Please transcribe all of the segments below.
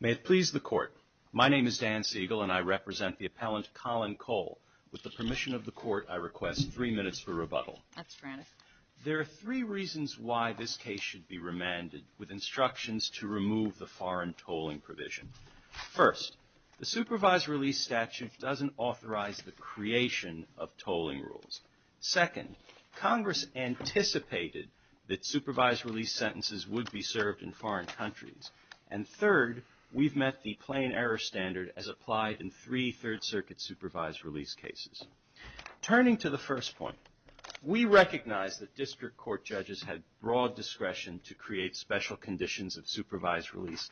May it please the court, my name is Dan Siegel and I represent the appellant Colin Cole. With the permission of the court I request three minutes for rebuttal. That's frantic. There are three reasons why this case should be remanded with instructions to remove the First, the supervised release statute doesn't authorize the creation of tolling rules. Second, Congress anticipated that supervised release sentences would be served in foreign countries. And third, we've met the plain error standard as applied in three Third Circuit supervised release cases. Turning to the first point, we recognize that district court judges had broad discretion to create special conditions of supervised release.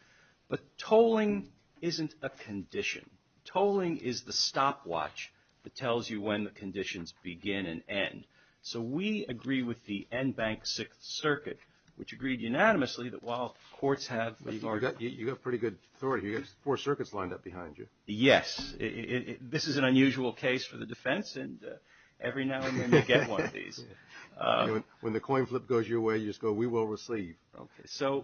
But tolling isn't a condition. Tolling is the stopwatch that tells you when the conditions begin and end. So we agree with the Enbank Sixth Circuit, which agreed unanimously that while courts have... You've got a pretty good story here. You've got four circuits lined up behind you. Yes. This is an unusual case for the defense and every now and then they get one of these. When the coin flip goes your way, you just go, we will receive. Okay. So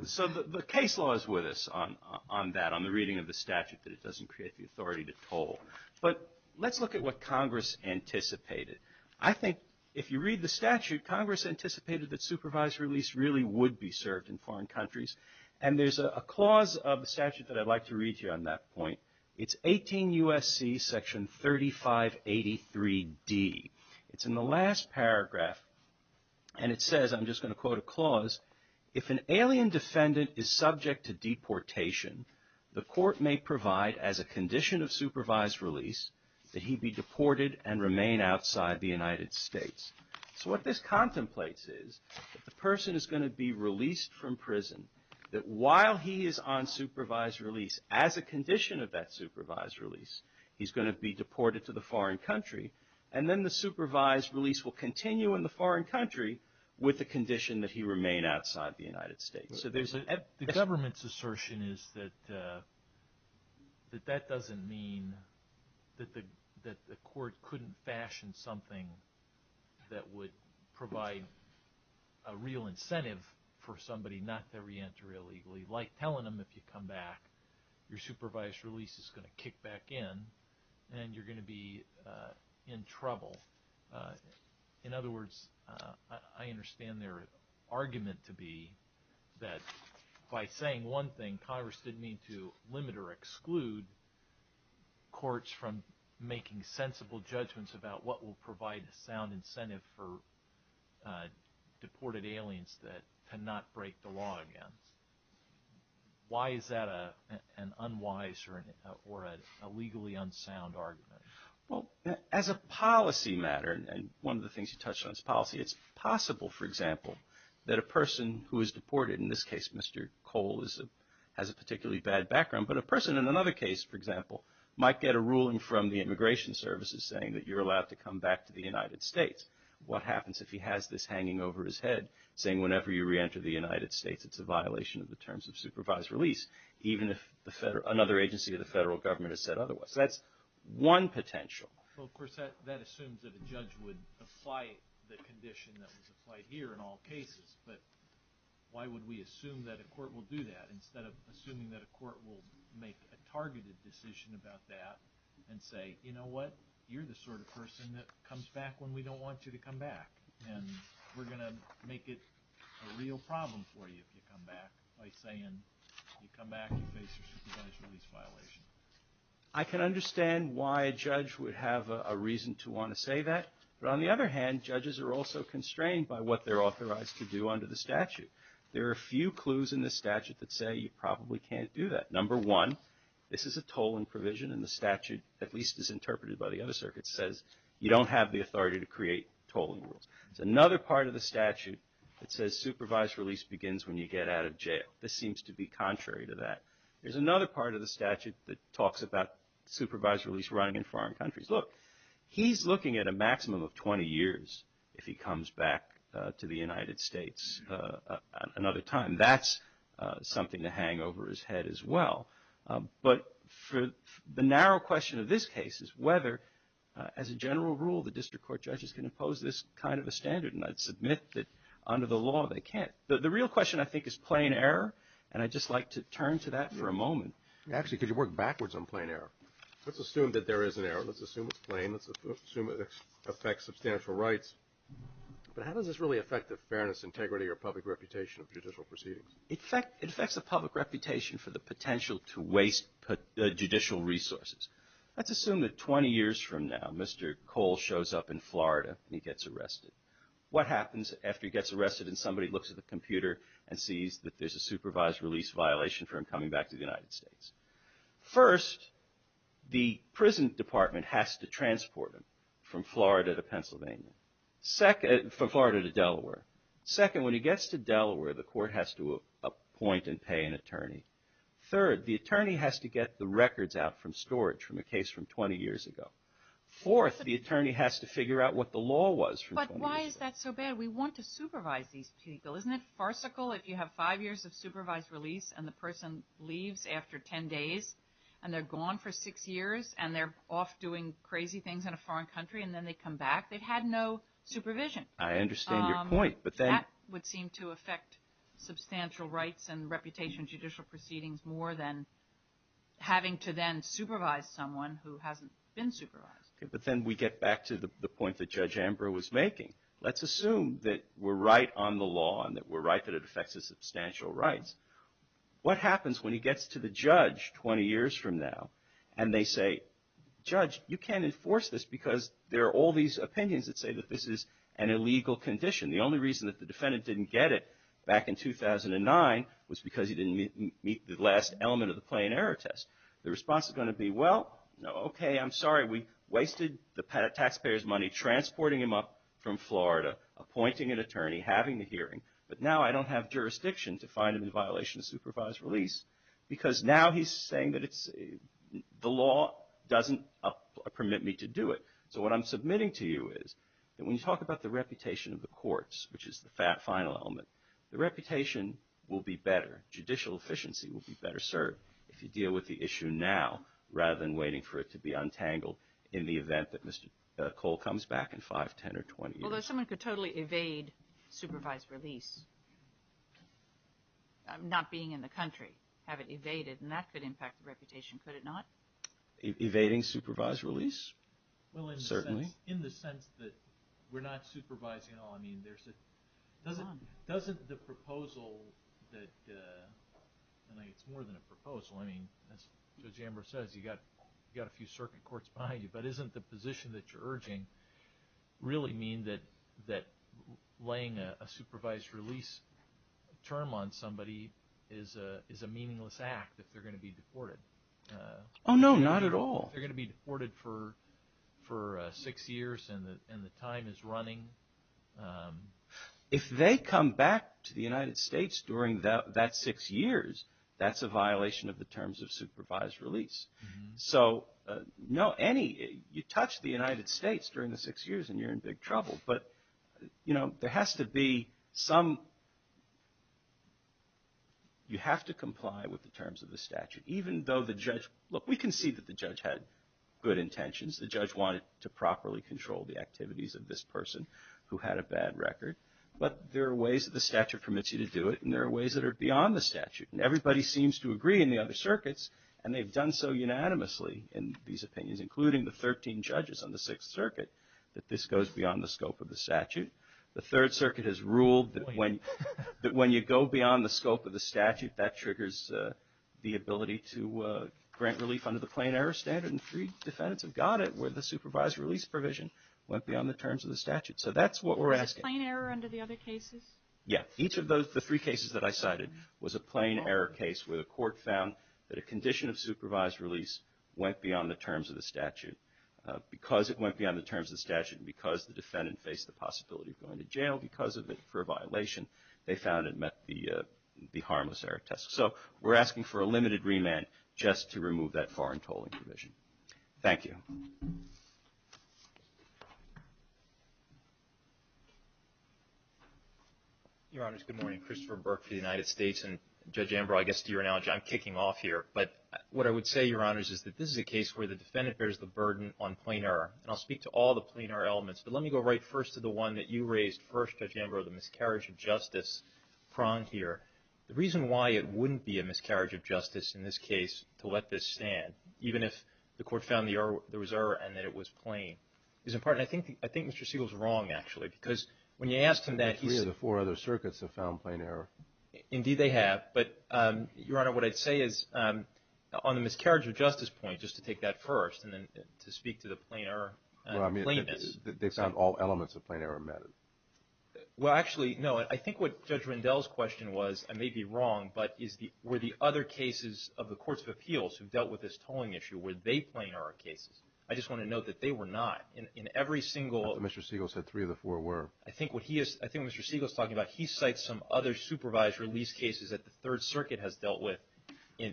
the case law is with us on that, on the reading of the statute that it doesn't create the authority to toll. But let's look at what Congress anticipated. I think if you read the statute, Congress anticipated that supervised release really would be served in foreign countries. And there's a clause of the statute that I'd like to read to you on that point. It's 18 U.S.C. section 3583D. It's in the last paragraph and it says, I'm just going to quote a clause, if an alien defendant is subject to deportation, the court may provide as a condition of supervised release that he be deported and remain outside the United States. So what this contemplates is that the person is going to be released from prison, that while he is on supervised release as a condition of that supervised release will continue in the foreign country with the condition that he remain outside the United States. So there's a... The government's assertion is that that doesn't mean that the court couldn't fashion something that would provide a real incentive for somebody not to In other words, I understand their argument to be that by saying one thing, Congress didn't mean to limit or exclude courts from making sensible judgments about what will provide a sound incentive for deported aliens that cannot break the law again. Why is that an unwise or a legally unsound argument? Well, as a policy matter, and one of the things you touched on is policy, it's possible, for example, that a person who is deported, in this case, Mr. Cole has a particularly bad background, but a person in another case, for example, might get a ruling from the Immigration Services saying that you're allowed to come back to the United States. What happens if he has this hanging over his head, saying whenever you reenter the United States, it's a violation of the terms of supervised release, even if another agency of the federal government has said otherwise. That's one potential. Well, of course, that assumes that a judge would apply the condition that was applied here in all cases, but why would we assume that a court will do that instead of assuming that a court will make a targeted decision about that and say, you know what, you're the sort of person that comes back when we don't want you to come back, and we're going to make it a real problem for you if you come back by saying you come back, you face a supervised release violation. I can understand why a judge would have a reason to want to say that, but on the other hand, judges are also constrained by what they're authorized to do under the statute. There are a few clues in the statute that say you probably can't do that. Number one, this is a tolling provision, and the statute, at least as interpreted by the other circuits, says you don't have the authority to create tolling rules. It's another part of the statute that says supervised release begins when you get out of jail. This seems to be contrary to that. There's another part of the statute that talks about supervised release running in foreign countries. Look, he's looking at a maximum of 20 years if he comes back to the United States another time. That's something to hang over his head as well, but the narrow question of this case is whether, as a general rule, the district court judges can impose this kind of a standard, and I'd submit that under the law they can't. The real question, I think, is plain error, and I'd just like to turn to that for a moment. Actually, could you work backwards on plain error? Let's assume that there is an error. Let's assume it's plain. Let's assume it affects substantial rights, but how does this really affect the fairness, integrity, or public reputation of judicial proceedings? It affects the public reputation for the potential to waste judicial resources. Let's assume that 20 years from now, Mr. Cole shows up in Florida and he gets arrested. What happens after he gets arrested and somebody looks at the computer and sees that there's a supervised release violation for him coming back to the United States? First, the prison department has to transport him from Florida to Pennsylvania, from Florida to Delaware. Second, when he gets to Delaware, the court has to appoint and pay an attorney. Third, the attorney has to get the records out from storage from a case from 20 years ago. Fourth, the attorney has to figure out what the law was from 20 years ago. Why is that so bad? We want to supervise these people. Isn't it farcical if you have five years of supervised release and the person leaves after 10 days and they're gone for six years and they're off doing crazy things in a foreign country and then they come back? They've had no supervision. I understand your point. But that would seem to affect substantial rights and reputation judicial proceedings more than having to then supervise someone who hasn't been supervised. But then we get back to the point that Judge Ambrose was making. Let's assume that we're right on the law and that we're right that it affects his substantial rights. What happens when he gets to the judge 20 years from now and they say, Judge, you can't enforce this because there are all these opinions that say that this is an illegal condition. The only reason that the defendant didn't get it back in 2009 was because he didn't meet the last element of the plain error test. The response is going to be, well, no, OK, I'm sorry. We wasted the taxpayer's money transporting him up from Florida, appointing an attorney, having the hearing. But now I don't have jurisdiction to find him in violation of supervised release because now he's saying that the law doesn't permit me to do it. So what I'm submitting to you is that when you talk about the reputation of the courts, which is the final element, the reputation will be better. Judicial efficiency will be better served if you deal with the issue now rather than waiting for it to be untangled in the event that Mr. Cole comes back in 5, 10, or 20 years. Although someone could totally evade supervised release, not being in the country, have it evaded, and that could impact the reputation, could it not? Evading supervised release? Well, in the sense that we're not supervising all, I mean, doesn't the proposal that, and it's more than a proposal, I mean, as Judge Amber says, you've got a few circuit courts behind you. But isn't the position that you're urging really mean that laying a supervised release term on somebody is a meaningless act if they're going to be deported? Oh, no, not at all. If they're going to be deported for six years and the time is running? If they come back to the United States during that six years, that's a violation of the terms of supervised release. So, no, any, you touch the United States during the six years and you're in big trouble. But, you know, there has to be some, you have to comply with the terms of the statute. Even though the judge, look, we can see that the judge had good intentions. The judge wanted to properly control the activities of this person who had a bad record. But there are ways that the statute permits you to do it, and there are ways that are beyond the statute. And everybody seems to agree in the other circuits, and they've done so unanimously in these opinions, including the 13 judges on the Sixth Circuit, that this goes beyond the scope of the statute. The Third Circuit has ruled that when you go beyond the scope of the statute, that triggers the ability to grant relief under the plain error standard. And three defendants have got it where the supervised release provision went beyond the terms of the statute. So that's what we're asking. Is it plain error under the other cases? Yeah. Each of the three cases that I cited was a plain error case where the court found that a condition of supervised release went beyond the terms of the statute. Because it went beyond the terms of the statute and because the defendant faced the possibility of going to jail because of it for a violation, they found it met the harmless error test. So we're asking for a limited remand just to remove that foreign tolling provision. Thank you. Your Honors, good morning. Christopher Burke for the United States. And Judge Ambrose, I guess to your analogy, I'm kicking off here. But what I would say, Your Honors, is that this is a case where the defendant bears the burden on plain error. And I'll speak to all the plain error elements. But let me go right first to the one that you raised first, Judge Ambrose, the miscarriage of justice prong here. The reason why it wouldn't be a miscarriage of justice in this case to let this stand, even if the court found there was error and that it was plain, is in part, and I think Mr. Siegel's wrong, actually. Because when you asked him that, he said the four other circuits have found plain error. Indeed, they have. But, Your Honor, what I'd say is, on the miscarriage of justice point, just to take that first and then to speak to the plain error claimant. Well, I mean, they found all elements of plain error meted. Well, actually, no. I think what Judge Rendell's question was, I may be wrong, but were the other cases of the courts of appeals who dealt with this tolling issue, were they plain error cases? I just want to note that they were not. In every single. Mr. Siegel said three of the four were. I think what Mr. Siegel's talking about, he cites some other supervised release cases that the Third Circuit has dealt with in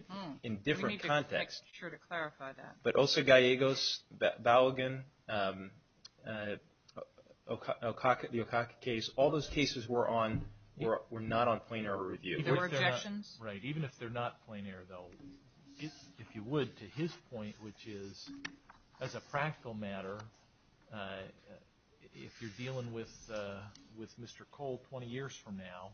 different contexts. We need a picture to clarify that. But Oso Gallegos, Balogun, the Okaka case, all those cases were not on plain error review. There were objections. Right. Even if they're not plain error, though, if you would, to his point, which is, as a practical matter, if you're dealing with Mr. Cole 20 years from now,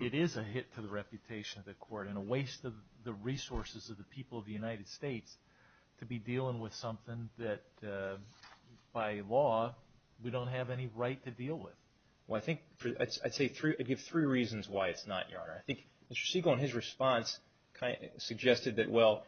it is a hit to the reputation of the court and a waste of the resources of the people of the United States to be dealing with something that, by law, we don't have any right to deal with. Well, I think I'd say three, I'd give three reasons why it's not, Your Honor. I think Mr. Siegel, in his response, suggested that, well,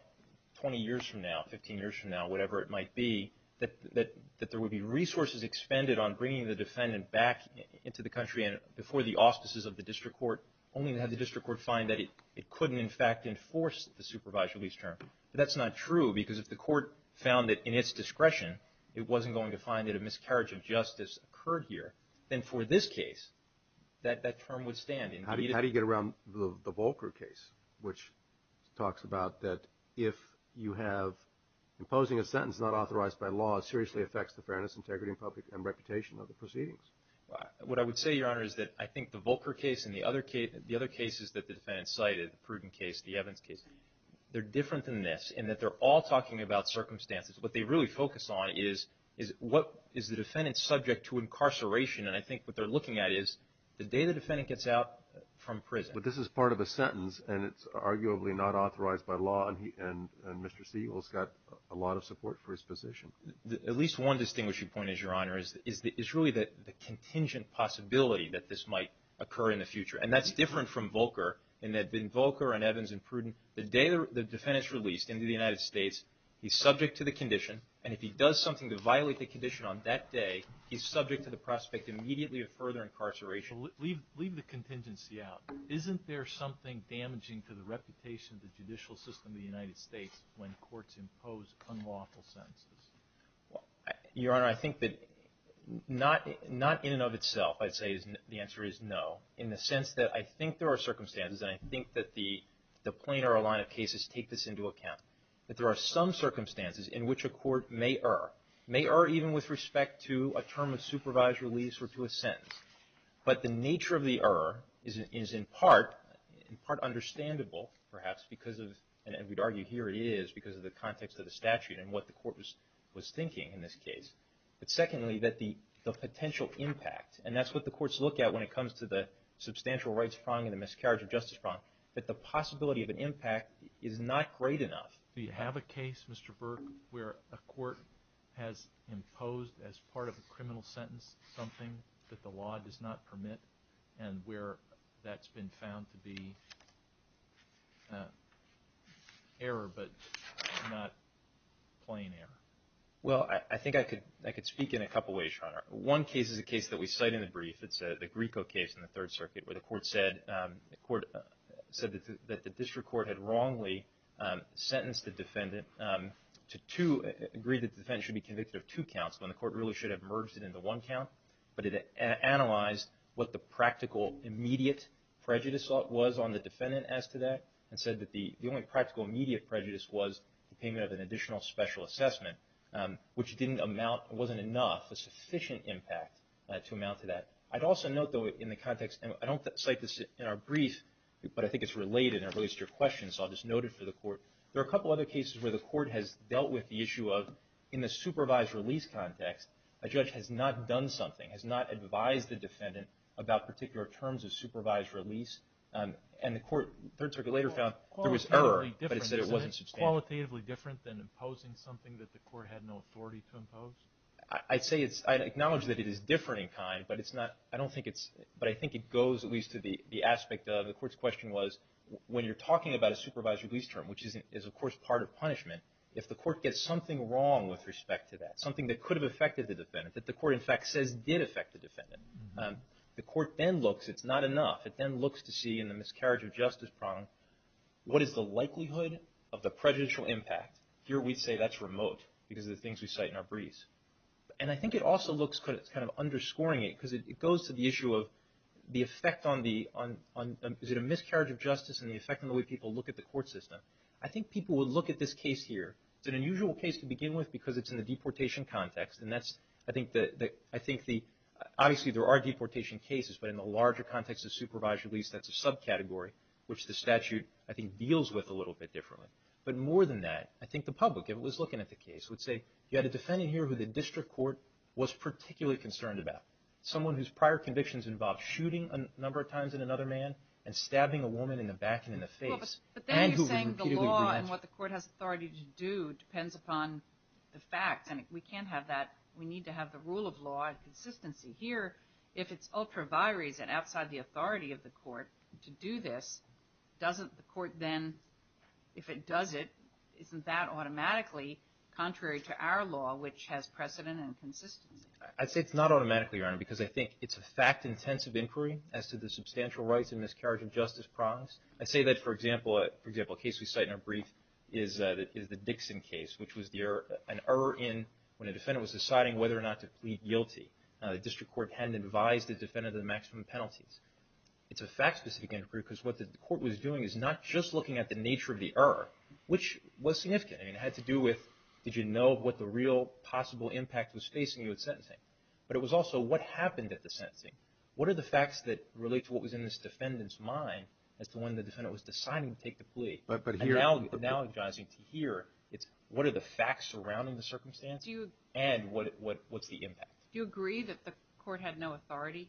20 years from now, 15 years from now, whatever it might be, that there would be resources expended on bringing the defendant back into the country before the auspices of the district court, only to have the district court find that it couldn't, in fact, enforce the supervised release term. That's not true, because if the court found that, in its discretion, it wasn't going to find that a miscarriage of justice occurred here, then for this case, that term would stand. How do you get around the Volcker case, which talks about that if you have imposing a sentence not authorized by law, it seriously affects the fairness, integrity, and public reputation of the proceedings? What I would say, Your Honor, is that I think the Volcker case and the other cases that the defendants cited, the Pruden case, the Evans case, they're different than this, in that they're all talking about circumstances. What they really focus on is what is the defendant subject to incarceration, and I think what they're looking at is the day the defendant gets out from prison. But this is part of a sentence, and it's arguably not authorized by law, and Mr. Siegel's got a lot of support for his position. At least one distinguishing point is, Your Honor, is really the contingent possibility that this might occur in the future, and that's different from Volcker, in that in Volcker and Evans and Pruden, the day the defendant's released into the United States, he's subject to the condition, and if he does something to violate the condition on that day, he's subject to the prospect immediately of further incarceration. Well, leave the contingency out. Isn't there something damaging to the reputation of the judicial system of the United States when courts impose unlawful sentences? Your Honor, I think that not in and of itself, I'd say the answer is no, in the sense that I think there are circumstances, and I think that the plain or a line of cases take this into account, that there are some circumstances in which a court may err, may err even with respect to a term of supervised release or to a sentence. But the nature of the error is in part understandable, perhaps, because of, and we'd argue here it is, because of the context of the statute and what the court was thinking in this case. But secondly, that the potential impact, and that's what the courts look at when it comes to the substantial rights prong and the miscarriage of justice prong, that the possibility of an impact is not great enough. Do you have a case, Mr. Burke, where a court has imposed as part of a criminal sentence something that the law does not permit, and where that's been found to be error, but not plain error? Well, I think I could speak in a couple ways, Your Honor. One case is a case that we cite in the brief. It's the Grieco case in the Third Circuit, where the court said that the district court had wrongly sentenced the defendant to two, agreed that the defendant should be convicted of two counts, when the court really should have merged it into one count, but it analyzed what the practical, immediate prejudice was on the defendant as to that, and said that the only practical, immediate prejudice was the payment of an additional special assessment, which didn't amount, wasn't enough, a sufficient impact to amount to that. I'd also note, though, in the context, and I don't cite this in our brief, but I think it's related, and it relates to your question, so I'll just note it for the court. There are a couple other cases where the court has dealt with the issue of, in the supervised release context, a judge has not done something, has not advised the defendant about particular terms of supervised release, and the court, Third Circuit later found there was error, but it said it wasn't substantial. Is that qualitatively different than imposing something that the court had no authority to impose? I'd say it's, I'd acknowledge that it is different in kind, but it's not, I don't think it's, but I think it goes at least to the aspect of, the court's question was, when you're talking about a supervised release term, which is, of course, part of punishment, if the court gets something wrong with respect to that, something that could have affected the defendant, that the court, in fact, says did affect the defendant, the court then looks, it's not enough, it then looks to see in the miscarriage of justice problem, what is the likelihood of the prejudicial impact? Here we say that's remote, because of the things we cite in our briefs. And I think it also looks, it's kind of underscoring it, because it goes to the issue of the effect on the, is it a miscarriage of justice and the effect on the way people look at the court system? I think people would look at this case here, it's an unusual case to begin with because it's in the deportation context, and that's, I think the, obviously there are deportation cases, but in the larger context of supervised release, that's a subcategory, which the statute, I think, deals with a little bit differently. But more than that, I think the public, if it was looking at the case, would say, you had a defendant here who the district court was particularly concerned about, someone whose prior convictions involved shooting a number of times at another man, and stabbing a woman in the back and in the face, and who repeatedly relented. And what the court has authority to do depends upon the facts, and we can't have that, we need to have the rule of law and consistency. Here, if it's ultra vires and outside the authority of the court to do this, doesn't the court then, if it does it, isn't that automatically contrary to our law, which has precedent and consistency? I'd say it's not automatically, Your Honor, because I think it's a fact-intensive inquiry as to the substantial rights and miscarriage of justice promise. I'd say that, for example, a case we cite in our brief is the Dixon case, which was an error in, when a defendant was deciding whether or not to plead guilty, the district court hadn't advised the defendant of the maximum penalties. It's a fact-specific inquiry because what the court was doing is not just looking at the nature of the error, which was significant. I mean, it had to do with, did you know what the real possible impact was facing you at sentencing? But it was also, what happened at the sentencing? What are the facts that relate to what was in this defendant's mind as to when the defendant was deciding to take the plea? Analogizing to here, it's what are the facts surrounding the circumstance and what's the impact? Do you agree that the court had no authority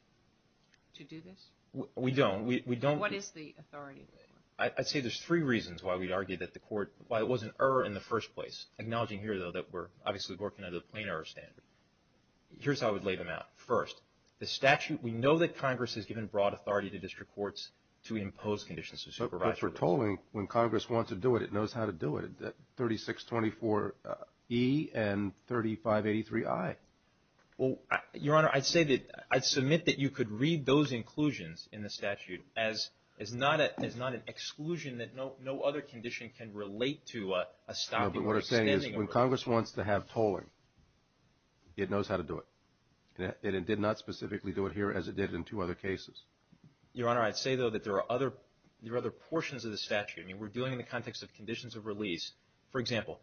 to do this? We don't. What is the authority? I'd say there's three reasons why we'd argue that the court, why it was an error in the first place. Acknowledging here, though, that we're obviously working under the plain error standard. Here's how I would lay them out. First, the statute, we know that Congress has given broad authority to district courts to impose conditions of supervision. But for tolling, when Congress wants to do it, it knows how to do it. 3624E and 3583I. Well, Your Honor, I'd say that, I'd submit that you could read those inclusions in the statute as not an exclusion, that no other condition can relate to a stopping or extending. No, but what I'm saying is when Congress wants to have tolling, it knows how to do it. And it did not specifically do it here as it did in two other cases. Your Honor, I'd say, though, that there are other portions of the statute. I mean, we're doing it in the context of conditions of release. For example,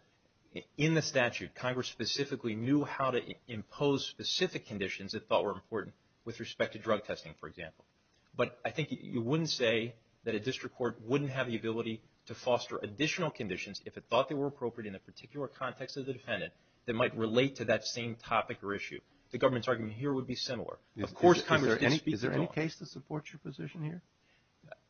in the statute, Congress specifically knew how to impose specific conditions that thought were important with respect to drug testing, for example. But I think you wouldn't say that a district court wouldn't have the ability to foster additional conditions, if it thought they were appropriate in a particular context of the defendant, that might relate to that same topic or issue. The government's argument here would be similar. Of course, Congress did speak to tolling. Is there any case that supports your position here?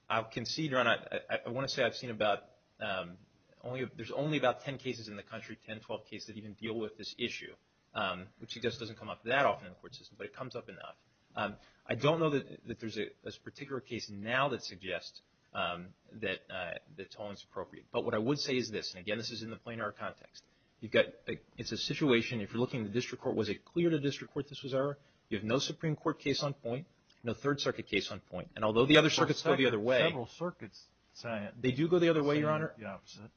I'll concede, Your Honor, I want to say I've seen about, there's only about 10 cases in the country, 10, 12 cases that even deal with this issue, which just doesn't come up that often in the court system, but it comes up enough. I don't know that there's a particular case now that suggests that tolling is appropriate. But what I would say is this, and again, this is in the planar context, you've got, it's a situation, if you're looking at the district court, was it clear to district court this was error? You have no Supreme Court case on point, no Third Circuit case on point. And although the other circuits go the other way, they do go the other way, Your Honor.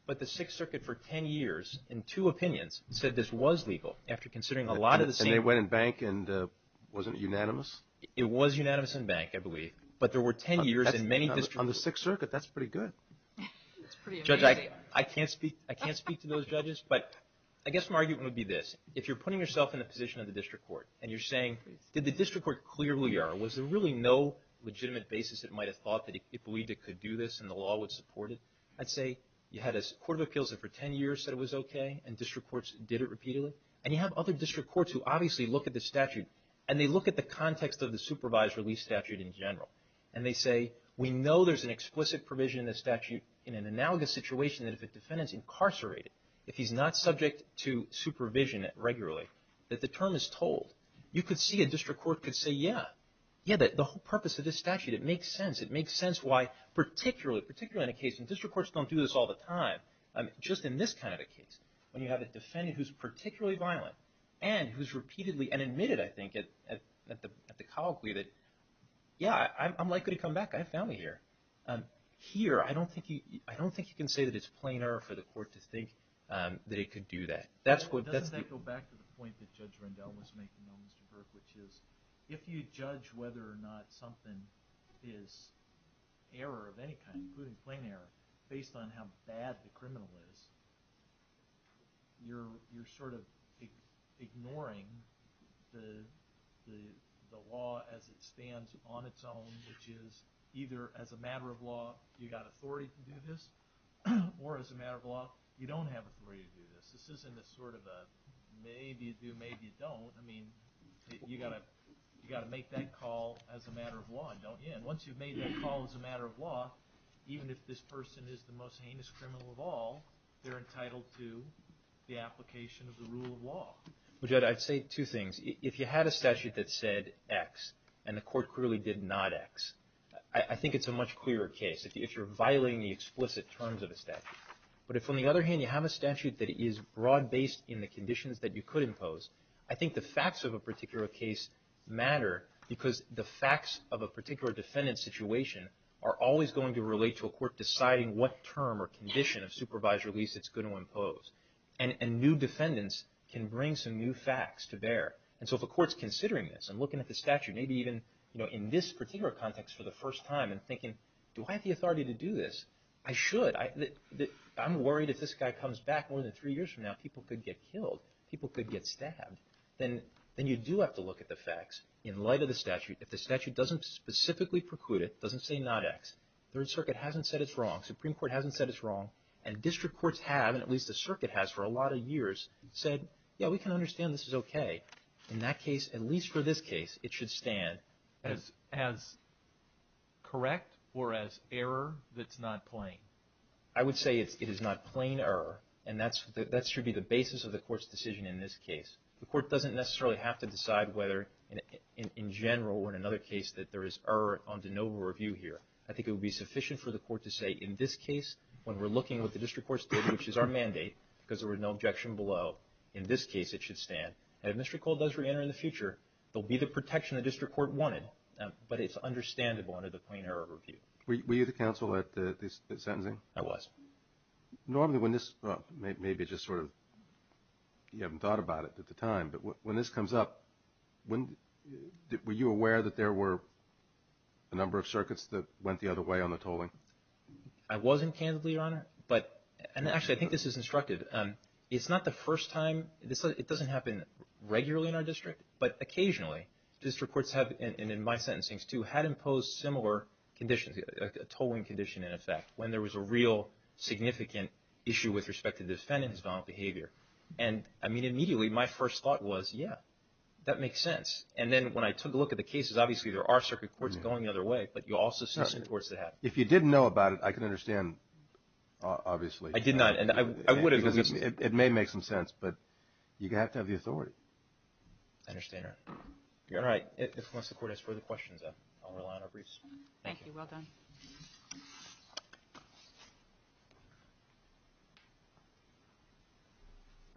But the Sixth Circuit for 10 years, in two opinions, said this was legal after considering a lot of the same. And they went in bank and wasn't it unanimous? It was unanimous in bank, I believe. But there were 10 years in many districts. On the Sixth Circuit, that's pretty good. Judge, I can't speak to those judges, but I guess my argument would be this. If you're putting yourself in the position of the district court and you're saying, did the district court clearly error? Was there really no legitimate basis it might have thought that it believed it could do this and the law would support it? I'd say you had a court of appeals that for 10 years said it was okay and district courts did it repeatedly. And you have other district courts who obviously look at the statute and they look at the context of the supervised release statute in general. And they say, we know there's an explicit provision in the statute, in an analogous situation, that if a defendant's incarcerated, if he's not subject to supervision regularly, that the term is told. You could see a district court could say, yeah, yeah, the whole purpose of this statute, it makes sense. It makes sense why, particularly in a case, and district courts don't do this all the time, just in this kind of a case, when you have a defendant who's particularly violent and who's repeatedly, and admitted, I think, at the colloquy that, yeah, I'm likely to come back. I have family here. Here, I don't think you can say that it's plain error for the court to think that it could do that. Doesn't that go back to the point that Judge Rendell was making, though, Mr. Burke, which is if you judge whether or not something is error of any kind, including plain error, based on how bad the criminal is, you're sort of ignoring the law as it stands on its own, which is either as a matter of law, you've got authority to do this, or as a matter of law, you don't have authority to do this. This isn't a sort of a maybe you do, maybe you don't. I mean, you've got to make that call as a matter of law, don't you? And once you've made that call as a matter of law, even if this person is the most heinous criminal of all, they're entitled to the application of the rule of law. Well, Judge, I'd say two things. If you had a statute that said X, and the court clearly did not X, I think it's a much clearer case, if you're violating the explicit terms of a statute. But if, on the other hand, you have a statute that is broad-based in the conditions that you could impose, I think the facts of a particular case matter because the facts of a particular defendant's situation are always going to relate to a court deciding what term or condition of supervised release it's going to impose. And new defendants can bring some new facts to bear. And so if a court's considering this and looking at the statute, maybe even, you know, in this particular context for the first time and thinking, do I have the authority to do this? I should. I'm worried if this guy comes back more than three years from now, people could get killed. People could get stabbed. Then you do have to look at the facts. In light of the statute, if the statute doesn't specifically preclude it, doesn't say not X, Third Circuit hasn't said it's wrong, Supreme Court hasn't said it's wrong, and district courts have, and at least the circuit has for a lot of years, said, yeah, we can understand this is okay. In that case, at least for this case, it should stand. As correct or as error that's not plain? I would say it is not plain error, and that should be the basis of the court's decision in this case. The court doesn't necessarily have to decide whether, in general or in another case, that there is error on de novo review here. I think it would be sufficient for the court to say, in this case, when we're looking at what the district courts did, which is our mandate, because there was no objection below, in this case it should stand. And if Mr. Cole does reenter in the future, there will be the protection the district court wanted, but it's understandable under the plain error review. Were you the counsel at the sentencing? I was. Normally when this, maybe just sort of, you haven't thought about it at the time, but when this comes up, were you aware that there were a number of circuits that went the other way on the tolling? I wasn't, candidly, Your Honor, but, and actually I think this is instructive, it's not the first time, it doesn't happen regularly in our district, but occasionally district courts have, and in my sentencings too, had imposed similar conditions, a tolling condition in effect, when there was a real significant issue with respect to the defendant's violent behavior. And, I mean, immediately my first thought was, yeah, that makes sense. And then when I took a look at the cases, obviously there are circuit courts going the other way, but you also see some courts that have. If you didn't know about it, I can understand, obviously. I did not, and I would have at least. It may make some sense, but you have to have the authority. I understand, Your Honor. All right. Unless the court has further questions, I'll rely on our briefs. Thank you. Well done.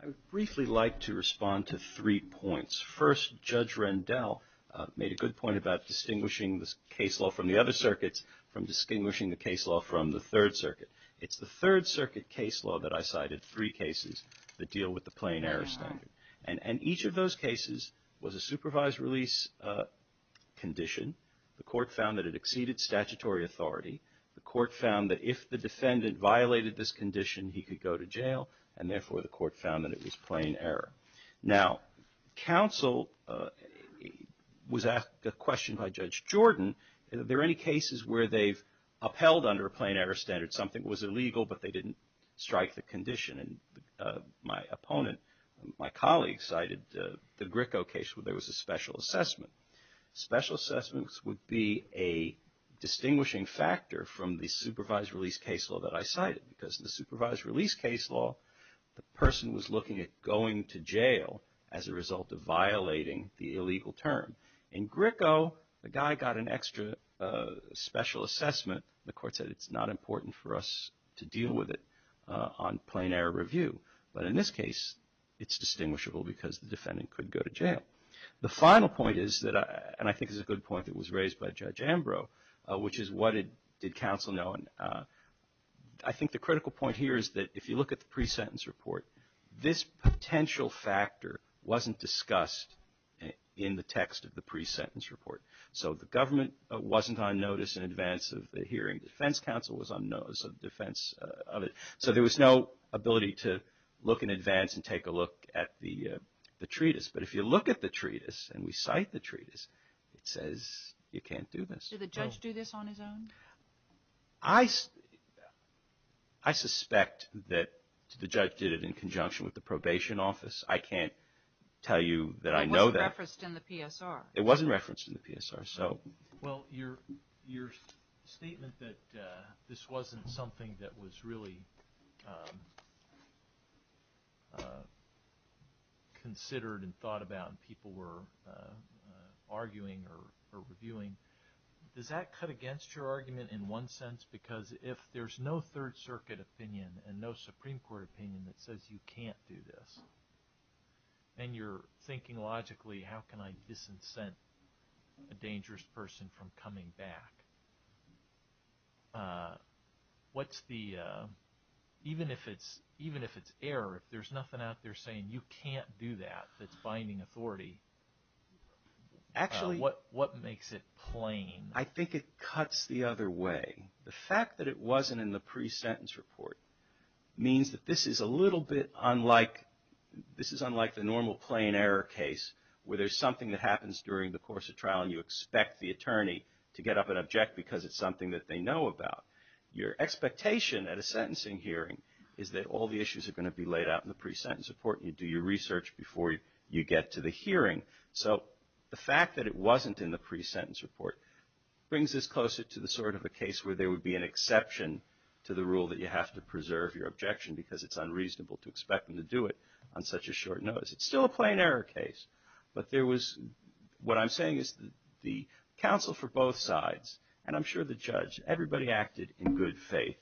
I would briefly like to respond to three points. First, Judge Rendell made a good point about distinguishing the case law from the other circuits from distinguishing the case law from the Third Circuit. It's the Third Circuit case law that I cited, three cases that deal with the plain error standard. And each of those cases was a supervised release condition. The court found that it exceeded statutory authority. The court found that if the defendant violated this condition, he could go to jail, and therefore the court found that it was plain error. Now, counsel was asked a question by Judge Jordan, are there any cases where they've upheld under a plain error standard something was illegal, but they didn't strike the condition? And my opponent, my colleague cited the Gricko case where there was a special assessment. Special assessments would be a distinguishing factor from the supervised release case law that I cited because the supervised release case law, the person was looking at going to jail as a result of violating the illegal term. In Gricko, the guy got an extra special assessment. The court said it's not important for us to deal with it on plain error review. But in this case, it's distinguishable because the defendant could go to jail. The final point is that, and I think it's a good point that was raised by Judge Ambrose, which is what did counsel know? And I think the critical point here is that if you look at the pre-sentence report, this potential factor wasn't discussed in the text of the pre-sentence report. So the government wasn't on notice in advance of the hearing. Defense counsel was on notice of defense of it. So there was no ability to look in advance and take a look at the treatise. But if you look at the treatise and we cite the treatise, it says you can't do this. Did the judge do this on his own? I suspect that the judge did it in conjunction with the probation office. I can't tell you that I know that. It wasn't referenced in the PSR. It wasn't referenced in the PSR. Well, your statement that this wasn't something that was really considered and thought about and people were arguing or reviewing, does that cut against your argument in one sense? Because if there's no Third Circuit opinion and no Supreme Court opinion that says you can't do this, then you're thinking logically, how can I disincent a dangerous person from coming back? Even if it's error, if there's nothing out there saying you can't do that that's binding authority, what makes it plain? I think it cuts the other way. The fact that it wasn't in the pre-sentence report means that this is a little bit unlike the normal plain error case where there's something that happens during the course of trial and you expect the attorney to get up and object because it's something that they know about. Your expectation at a sentencing hearing is that all the issues are going to be laid out in the pre-sentence report and you do your research before you get to the hearing. So the fact that it wasn't in the pre-sentence report brings us closer to the sort of a case where there would be an exception to the rule that you have to preserve your objection because it's unreasonable to expect them to do it on such a short notice. It's still a plain error case, but what I'm saying is the counsel for both sides, and I'm sure the judge, everybody acted in good faith.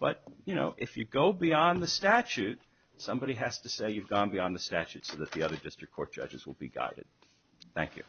But if you go beyond the statute, somebody has to say you've gone beyond the statute so that the other district court judges will be guided. Thank you.